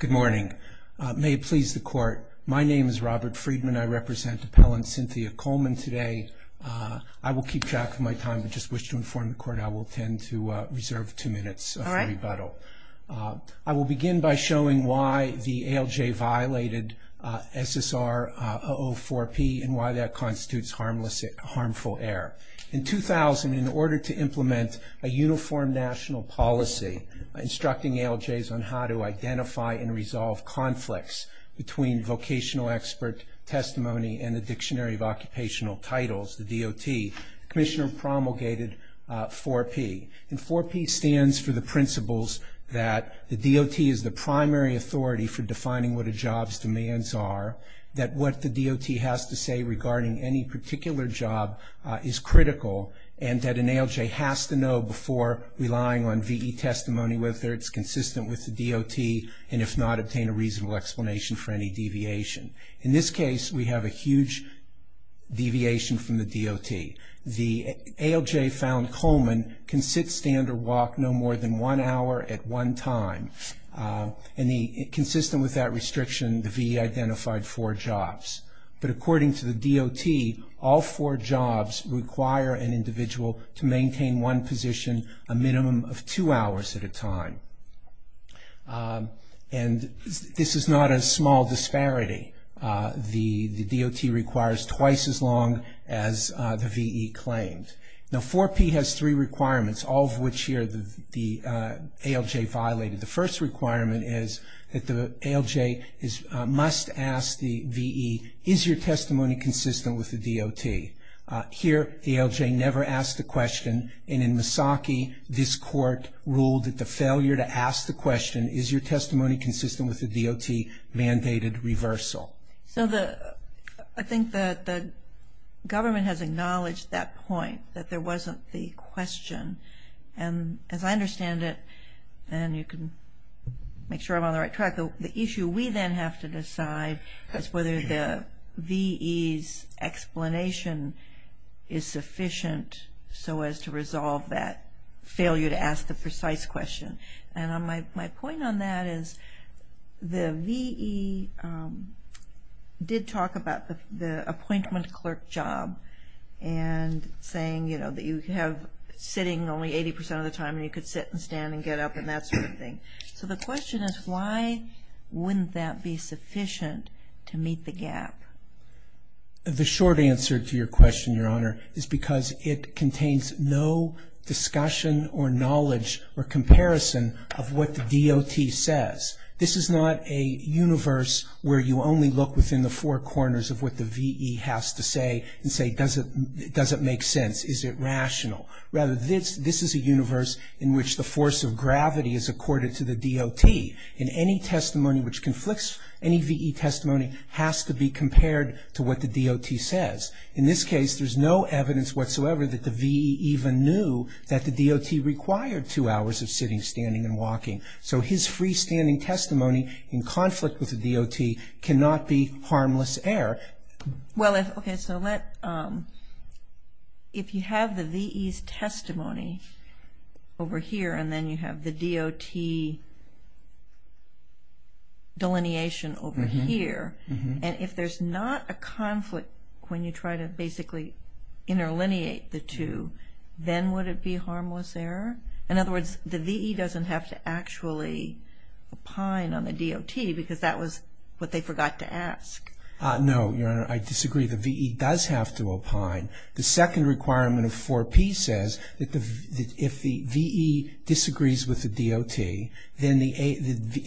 Good morning. May it please the Court, my name is Robert Friedman. I represent Appellant Cynthia Coleman today. I will keep track of my time, but just wish to inform the Court I will intend to reserve two minutes for rebuttal. I will begin by showing why the ALJ violated SSR 004P and why that constitutes harmful error. In 2000, in order to implement a uniform national policy instructing ALJs on how to identify and resolve conflicts between vocational expert testimony and the Dictionary of Occupational Titles, the DOT, the Commissioner promulgated 4P. And 4P stands for the principles that the DOT is the primary authority for defining what a job's demands are, that what the DOT has to say regarding any particular job is critical, and that an ALJ has to know before relying on VE testimony whether it's consistent with the DOT, and if not, obtain a reasonable explanation for any deviation. In this case, we have a huge deviation from the DOT. The ALJ found Coleman can sit, stand, or walk no more than one hour at one time. And consistent with that restriction, the VE identified four jobs. But according to the DOT, all four jobs require an individual to maintain one position a minimum of two hours at a time. And this is not a small disparity. The DOT requires twice as long as the VE claimed. Now 4P has three requirements, all of which here the ALJ violated. The first requirement is that the ALJ must ask the VE, is your testimony consistent with the DOT? Here, the ALJ never asked the question. And in Misaki, this court ruled that the failure to ask the question, is your testimony consistent with the DOT, mandated reversal. So I think that the government has acknowledged that point, that there wasn't the question. And as I understand it, and you can make sure I'm on the right track, the issue we then have to decide is whether the VE's explanation is sufficient so as to resolve that failure to ask the precise question. And my point on that is the VE did talk about the appointment clerk job and saying, you know, that you have sitting only 80% of the time and you could sit and stand and get up and that sort of thing. So the question is why wouldn't that be sufficient to meet the gap? The short answer to your question, Your Honor, is because it contains no discussion or knowledge or comparison of what the DOT says. This is not a universe where you only look within the four corners of what the VE has to say and say, does it make sense, is it rational? Rather, this is a universe in which the force of gravity is accorded to the DOT. And any testimony which conflicts any VE testimony has to be compared to what the DOT says. In this case, there's no evidence whatsoever that the VE even knew that the DOT required two hours of sitting, standing and walking. So his freestanding testimony in conflict with the DOT cannot be harmless error. Well, okay, so if you have the VE's testimony over here and then you have the DOT delineation over here, and if there's not a conflict when you try to basically interlineate the two, then would it be harmless error? In other words, the VE doesn't have to actually opine on the DOT because that was what they forgot to ask. No, Your Honor, I disagree. The VE does have to opine. The second requirement of 4P says that if the VE disagrees with the DOT, then the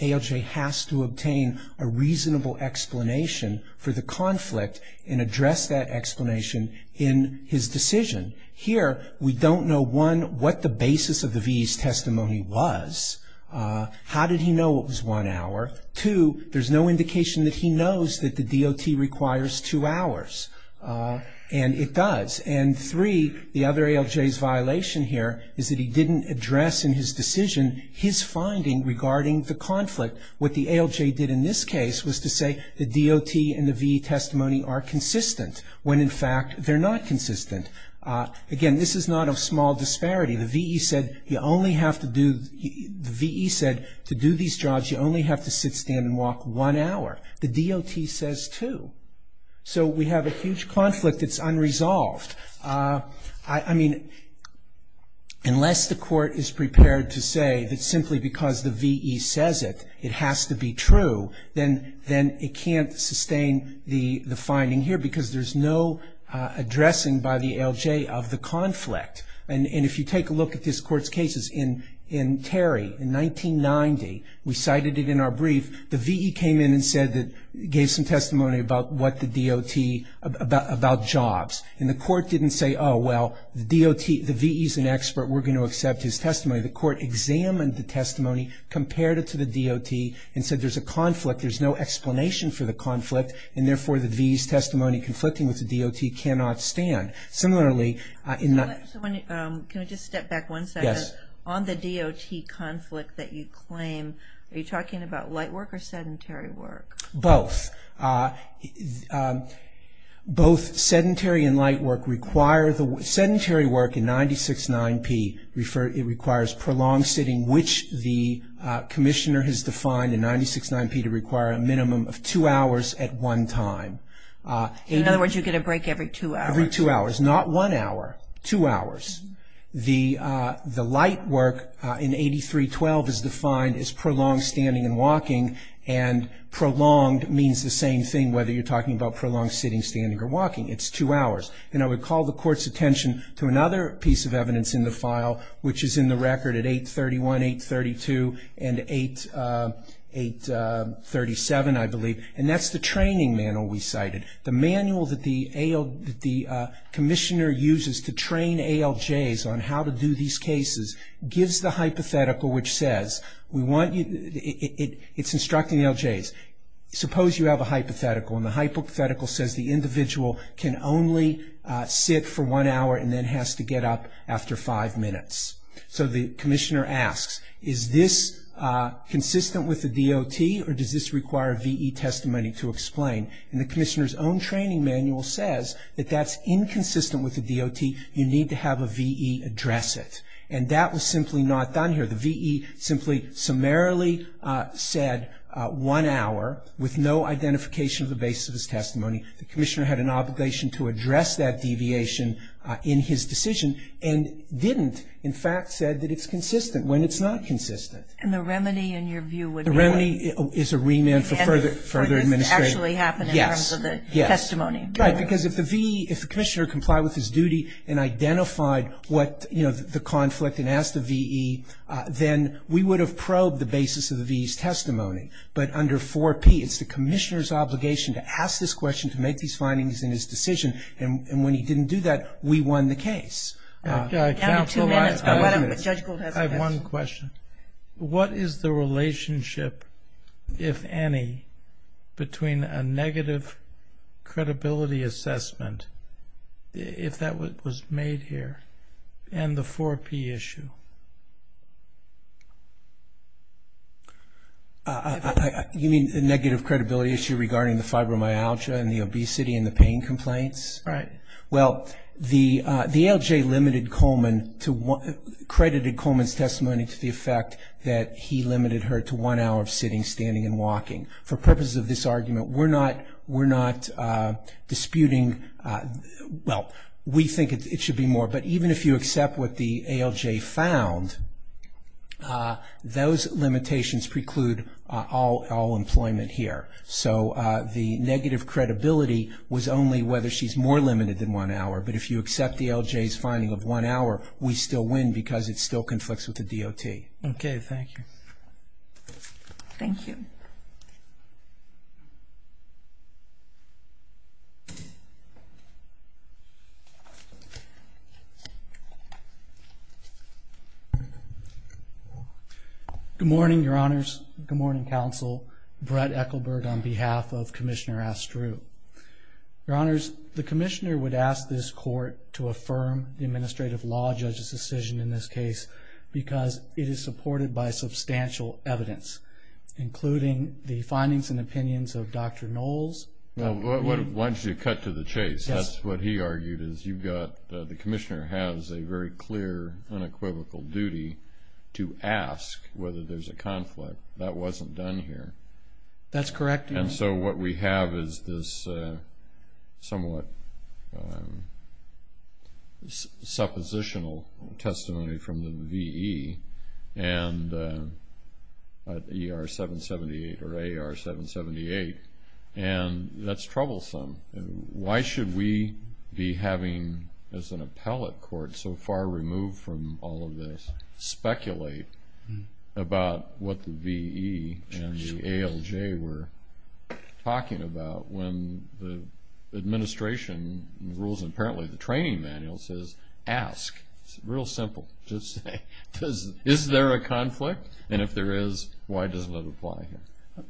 ALJ has to obtain a reasonable explanation for the conflict and address that explanation in his decision. Here, we don't know, one, what the basis of the VE's testimony was. How did he know it was one hour? Two, there's no indication that he knows that the DOT requires two hours, and it does. And three, the other ALJ's violation here is that he didn't address in his decision his finding regarding the conflict. What the ALJ did in this case was to say the DOT and the VE testimony are consistent when, in fact, they're not consistent. Again, this is not a small disparity. The VE said to do these jobs, you only have to sit, stand, and walk one hour. The DOT says two. So we have a huge conflict that's unresolved. I mean, unless the court is prepared to say that simply because the VE says it, it has to be true, then it can't sustain the finding here because there's no addressing by the ALJ of the conflict. And if you take a look at this Court's cases, in Terry, in 1990, we cited it in our brief, the VE came in and gave some testimony about what the DOT, about jobs. And the court didn't say, oh, well, the VE's an expert, we're going to accept his testimony. The court examined the testimony, compared it to the DOT, and said there's a conflict, there's no explanation for the conflict, and therefore the VE's testimony conflicting with the DOT cannot stand. Can I just step back one second? Yes. On the DOT conflict that you claim, are you talking about light work or sedentary work? Both. Both sedentary and light work require the – sedentary work in 96-9P, it requires prolonged sitting, which the commissioner has defined in 96-9P to require a minimum of two hours at one time. In other words, you get a break every two hours. Every two hours, not one hour, two hours. The light work in 83-12 is defined as prolonged standing and walking, and prolonged means the same thing whether you're talking about prolonged sitting, standing, or walking, it's two hours. And I would call the Court's attention to another piece of evidence in the file, which is in the record at 831, 832, and 837, I believe, and that's the training manual we cited. The manual that the commissioner uses to train ALJs on how to do these cases gives the hypothetical which says we want you – it's instructing ALJs. Suppose you have a hypothetical, and the hypothetical says the individual can only sit for one hour and then has to get up after five minutes. So the commissioner asks, is this consistent with the DOT or does this require VE testimony to explain? And the commissioner's own training manual says that that's inconsistent with the DOT. You need to have a VE address it. And that was simply not done here. The VE simply summarily said one hour with no identification of the basis of his testimony. The commissioner had an obligation to address that deviation in his decision and didn't in fact said that it's consistent when it's not consistent. And the remedy in your view would be what? And for further administration. For this to actually happen in terms of the testimony. Right, because if the VE – if the commissioner complied with his duty and identified what – you know, the conflict and asked the VE, then we would have probed the basis of the VE's testimony. But under 4P, it's the commissioner's obligation to ask this question, to make these findings in his decision. And when he didn't do that, we won the case. I have one question. What is the relationship, if any, between a negative credibility assessment, if that was made here, and the 4P issue? You mean the negative credibility issue regarding the fibromyalgia and the obesity and the pain complaints? Right. Well, the ALJ limited Coleman to – credited Coleman's testimony to the effect that he limited her to one hour of sitting, standing, and walking. For purposes of this argument, we're not disputing – well, we think it should be more. But even if you accept what the ALJ found, those limitations preclude all employment here. So the negative credibility was only whether she's more limited than one hour. But if you accept the ALJ's finding of one hour, we still win because it still conflicts with the DOT. Okay. Thank you. Thank you. Thank you. Good morning, Your Honors. Good morning, Counsel. Brett Ekelberg on behalf of Commissioner Astru. Your Honors, the Commissioner would ask this Court to affirm the administrative law judge's decision in this case because it is supported by substantial evidence, including the findings and opinions of Dr. Knowles. Why don't you cut to the chase? That's what he argued is you've got – the Commissioner has a very clear, unequivocal duty to ask whether there's a conflict. That wasn't done here. That's correct. And so what we have is this somewhat suppositional testimony from the V.E. and ER-778 or AR-778, and that's troublesome. Why should we be having, as an appellate court so far removed from all of this, speculate about what the V.E. and the ALJ were talking about when the administration rules, and apparently the training manual says, ask. It's real simple. Just say, is there a conflict? And if there is, why does it apply here?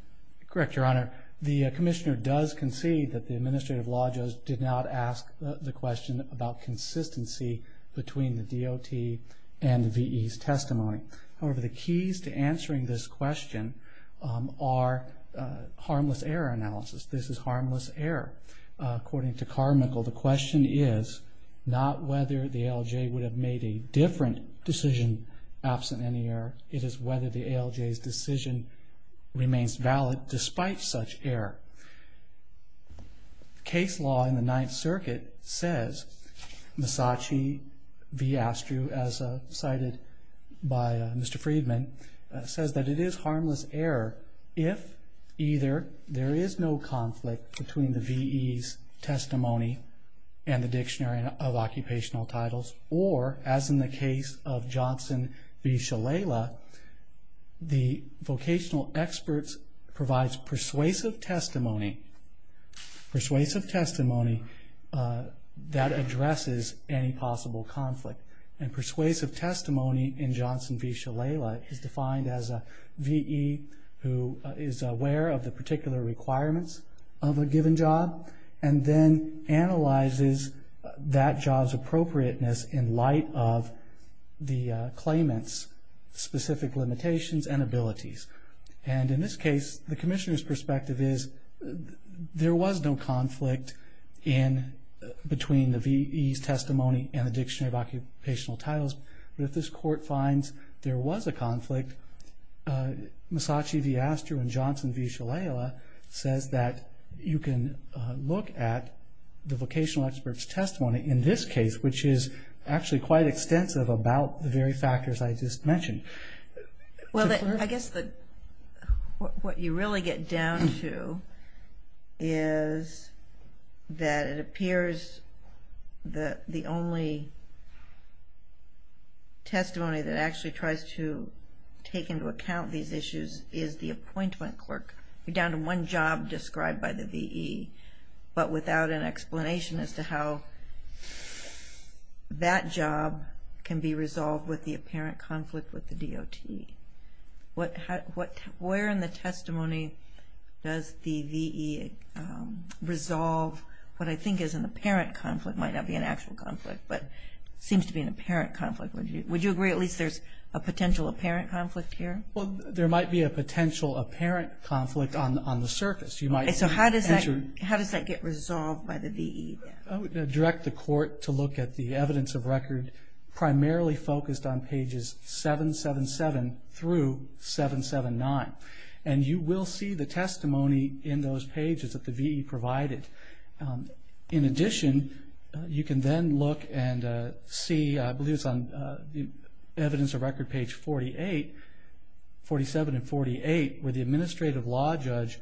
Correct, Your Honor. The Commissioner does concede that the administrative law judge did not ask the question about consistency between the DOT and the V.E.'s testimony. However, the keys to answering this question are harmless error analysis. This is harmless error. According to Carmichael, the question is not whether the ALJ would have made a different decision absent any error. It is whether the ALJ's decision remains valid despite such error. Case law in the Ninth Circuit says, Masachi v. Astrew, as cited by Mr. Friedman, says that it is harmless error if either there is no consistency between the V.E.'s testimony and the Dictionary of Occupational Titles or, as in the case of Johnson v. Shalala, the vocational experts provides persuasive testimony that addresses any possible conflict. And persuasive testimony in Johnson v. Shalala is defined as a V.E. who is aware of the particular requirements of a given job and then analyzes that job's appropriateness in light of the claimant's specific limitations and abilities. And in this case, the Commissioner's perspective is there was no conflict between the V.E.'s testimony and the Dictionary of Occupational Titles. But if this Court finds there was a conflict, Masachi v. Astrew and Johnson v. Shalala says that you can look at the vocational experts' testimony in this case, which is actually quite extensive about the very factors I just mentioned. Well, I guess what you really get down to is that it appears that the only testimony that actually tries to take into account these issues is the appointment clerk. You're down to one job described by the V.E. but without an explanation as to how that job can be resolved with the DOT. Where in the testimony does the V.E. resolve what I think is an apparent conflict, might not be an actual conflict, but seems to be an apparent conflict? Would you agree at least there's a potential apparent conflict here? Well, there might be a potential apparent conflict on the surface. So how does that get resolved by the V.E.? I would direct the Court to look at the evidence of record primarily focused on pages 777 through 779. And you will see the testimony in those pages that the V.E. provided. In addition, you can then look and see, I believe it's on evidence of record page 48, 47 and 48, where the administrative law judge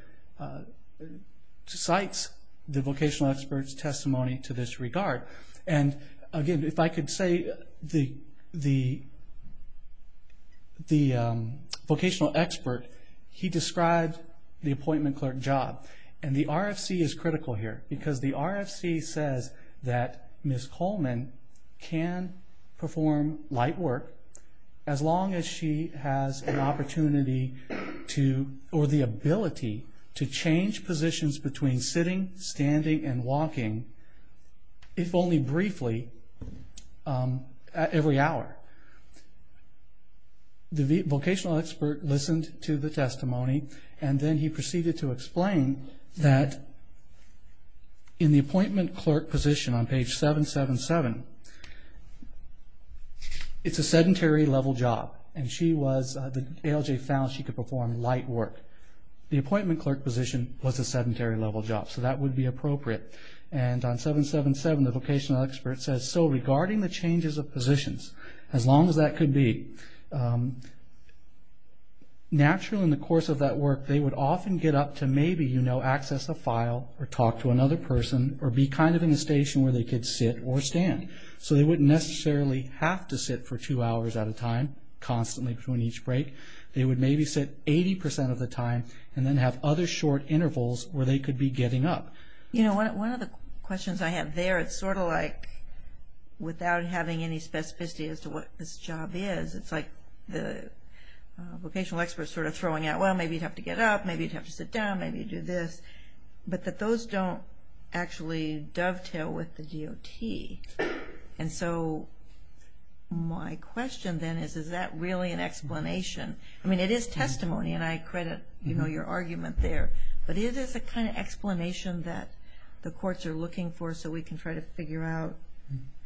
cites the vocational experts' testimony to this regard. Again, if I could say the vocational expert, he described the appointment clerk job. And the RFC is critical here because the RFC says that Ms. Coleman can perform light work as long as she has an opportunity or the ability to only briefly every hour. The vocational expert listened to the testimony and then he proceeded to explain that in the appointment clerk position on page 777, it's a sedentary level job. And she was, the ALJ found she could perform light work. The appointment clerk position was a sedentary level job, so that would be appropriate. And on 777, the vocational expert says, so regarding the changes of positions, as long as that could be, naturally in the course of that work, they would often get up to maybe, you know, access a file or talk to another person or be kind of in a station where they could sit or stand. So they wouldn't necessarily have to sit for two hours at a time, constantly between each break. They would maybe sit 80% of the time and then have other short intervals where they could be getting up. You know, one of the questions I have there, it's sort of like without having any specificity as to what this job is, it's like the vocational expert is sort of throwing out, well, maybe you'd have to get up, maybe you'd have to sit down, maybe you'd do this. But that those don't actually dovetail with the DOT. And so my question then is, is that really an explanation? I mean, it is testimony, and I credit, you know, your argument there. But it is a kind of explanation that the courts are looking for so we can try to figure out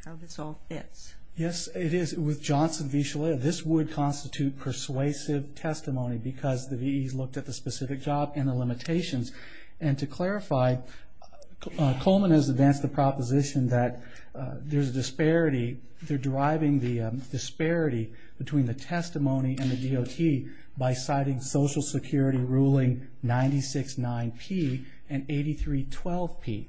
how this all fits. Yes, it is. With Johnson v. Shillelagh, this would constitute persuasive testimony because the VEs looked at the specific job and the limitations. And to clarify, Coleman has advanced the proposition that there's a disparity. They're deriving the disparity between the testimony and the DOT by citing Social Security Ruling 969P and 8312P.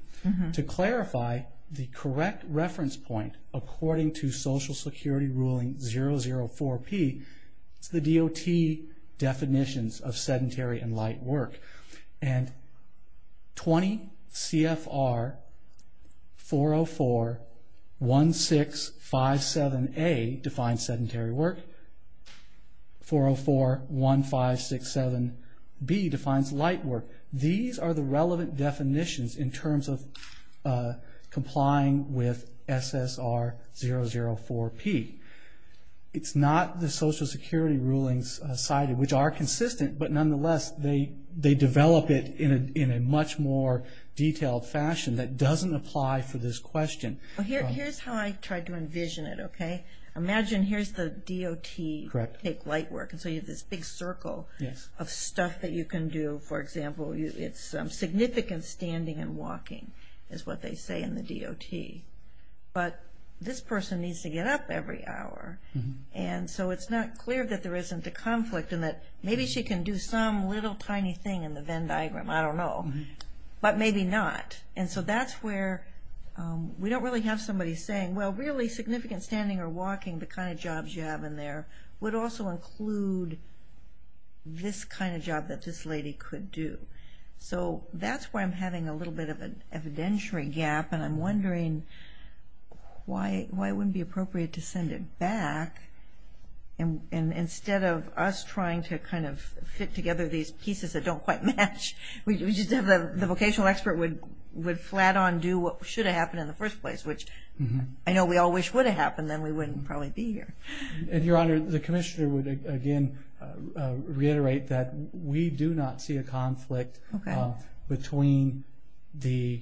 To clarify, the correct reference point according to Social Security Ruling 004P, it's the DOT definitions of sedentary and light work. And 20 CFR 404-1657A defines sedentary work. 404-1567B defines light work. These are the relevant definitions in terms of complying with SSR 004P. It's not the Social Security rulings cited, which are consistent, but nonetheless they develop it in a much more detailed fashion that doesn't apply for this question. Here's how I tried to envision it, okay? Imagine here's the DOT take light work. And so you have this big circle of stuff that you can do. For example, it's significant standing and walking is what they say in the DOT. But this person needs to get up every hour. And so it's not clear that there isn't a conflict and that maybe she can do some little tiny thing in the Venn diagram. I don't know. But maybe not. And so that's where we don't really have somebody saying, well, really significant standing or walking, the kind of jobs you have in there, would also include this kind of job that this lady could do. So that's where I'm having a little bit of an evidentiary gap, and I'm wondering why it wouldn't be appropriate to send it back. And instead of us trying to kind of fit together these pieces that don't quite match, we just have the vocational expert would flat-on do what should have happened in the first place, which I know we all wish would have happened, then we wouldn't probably be here. And, Your Honor, the commissioner would, again, reiterate that we do not see a conflict between the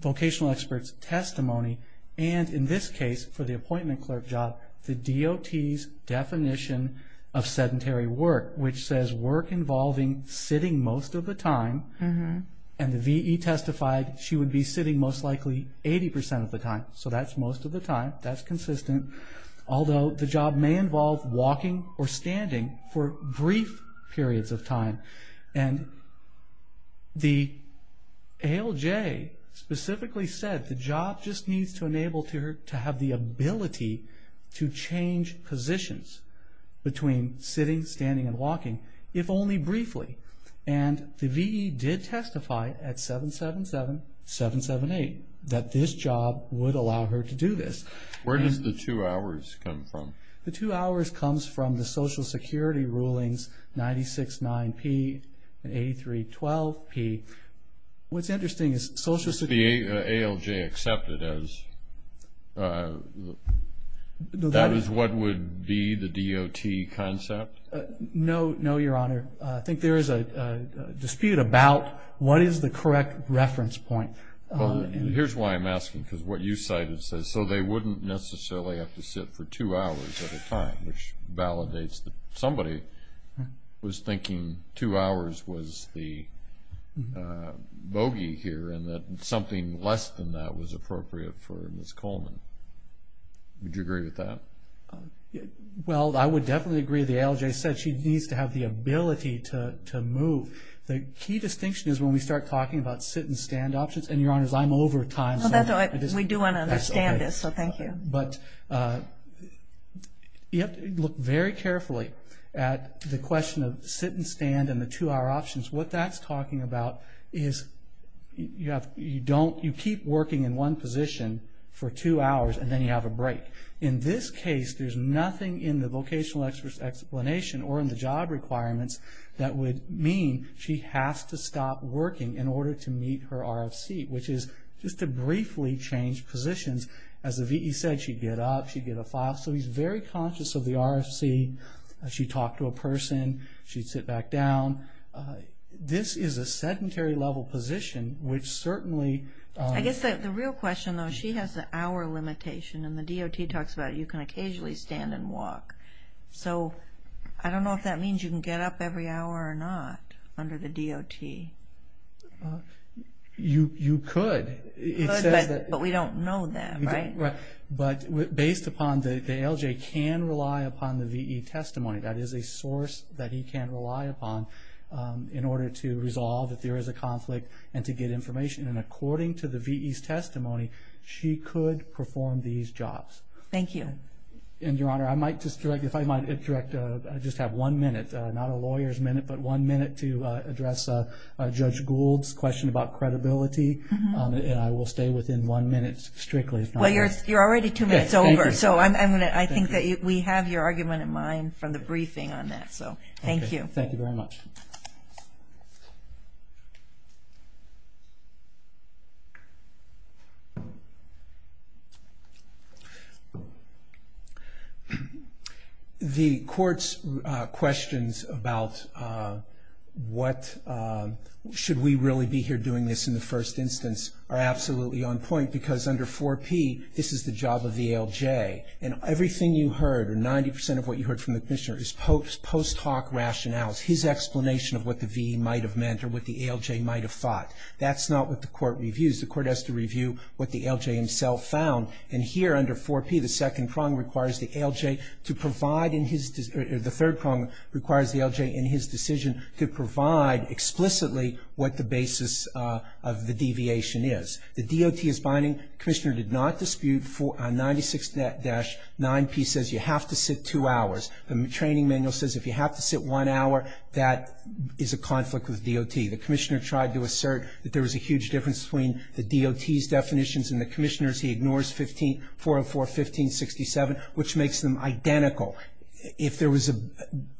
vocational expert's testimony and, in this case, for the appointment clerk job, the DOT's definition of sedentary work, which says work involving sitting most of the time. And the VE testified she would be sitting most likely 80% of the time. So that's most of the time. That's consistent. Although the job may involve walking or standing for brief periods of time. And the ALJ specifically said the job just needs to enable her to have the ability to change positions between sitting, standing, and walking, if only briefly. And the VE did testify at 777-778 that this job would allow her to do this. Where does the two hours come from? The two hours comes from the Social Security rulings 96-9P and 83-12P. What's interesting is Social Security ALJ accepted as that is what would be the DOT concept? No, Your Honor. I think there is a dispute about what is the correct reference point. Here's why I'm asking. Because what you cited says so they wouldn't necessarily have to sit for two hours at a time, which validates that somebody was thinking two hours was the bogey here and that something less than that was appropriate for Ms. Coleman. Would you agree with that? Well, I would definitely agree. The ALJ said she needs to have the ability to move. The key distinction is when we start talking about sit-and-stand options. And, Your Honor, I'm over time. We do want to understand this, so thank you. But you have to look very carefully at the question of sit-and-stand and the two-hour options. What that's talking about is you keep working in one position for two hours and then you have a break. In this case, there's nothing in the vocational explanation or in the job requirements that would mean she has to stop working in order to meet her RFC, which is just to briefly change positions. As the V.E. said, she'd get up, she'd get a file. So he's very conscious of the RFC. She'd talk to a person. She'd sit back down. This is a sedentary-level position, which certainly... I guess the real question, though, she has the hour limitation, and the DOT talks about you can occasionally stand and walk. So I don't know if that means you can get up every hour or not under the DOT. You could. But we don't know that, right? But based upon the L.J. can rely upon the V.E. testimony, that is a source that he can rely upon in order to resolve if there is a conflict and to get information. And according to the V.E.'s testimony, she could perform these jobs. Thank you. And, Your Honor, I might just direct, if I might direct, I just have one minute, not a lawyer's minute, but one minute to address Judge Gould's question about credibility. And I will stay within one minute strictly, if not more. Well, you're already two minutes over. So I think that we have your argument in mind from the briefing on that. So thank you. Thank you very much. The Court's questions about what, should we really be here doing this in the first instance are absolutely on point because under 4P, this is the job of the L.J. And everything you heard or 90% of what you heard from the Commissioner is post hoc rationales, his explanation of what the V.E. might have meant or what the L.J. might have thought. That's not what the Court reviews. The Court has to review what the L.J. himself found. And here under 4P, the second prong requires the L.J. to provide in his, or the third prong requires the L.J. in his decision to provide explicitly what the basis of the deviation is. The DOT is binding. The Commissioner did not dispute 96-9P says you have to sit two hours. The training manual says if you have to sit one hour, that is a conflict with DOT. The Commissioner tried to assert that there was a huge difference between the DOT's definitions and the Commissioner's. He ignores 404, 1567, which makes them identical. If there was a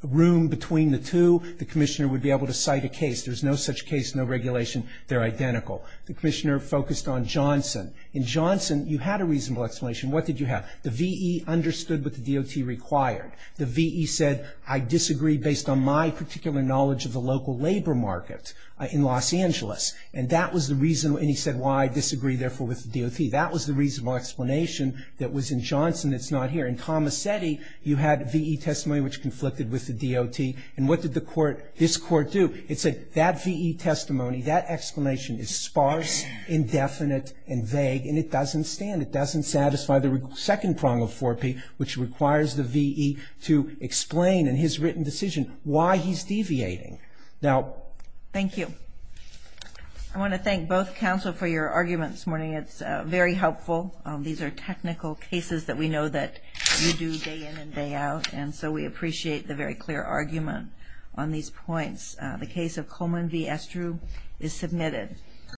room between the two, the Commissioner would be able to cite a case. There's no such case, no regulation. They're identical. The Commissioner focused on Johnson. In Johnson, you had a reasonable explanation. What did you have? The V.E. understood what the DOT required. The V.E. said I disagree based on my particular knowledge of the local labor market in Los Angeles. And that was the reason. And he said why I disagree, therefore, with the DOT. That was the reasonable explanation that was in Johnson that's not here. In Tomasetti, you had V.E. testimony which conflicted with the DOT. And what did the Court, this Court, do? It said that V.E. testimony, that explanation is sparse, indefinite and vague, and it doesn't stand. It doesn't satisfy the second prong of 4P, which requires the V.E. to explain in his written decision why he's deviating. Thank you. I want to thank both counsel for your arguments this morning. It's very helpful. These are technical cases that we know that you do day in and day out. And so we appreciate the very clear argument on these points. The case of Coleman v. Estrue is submitted.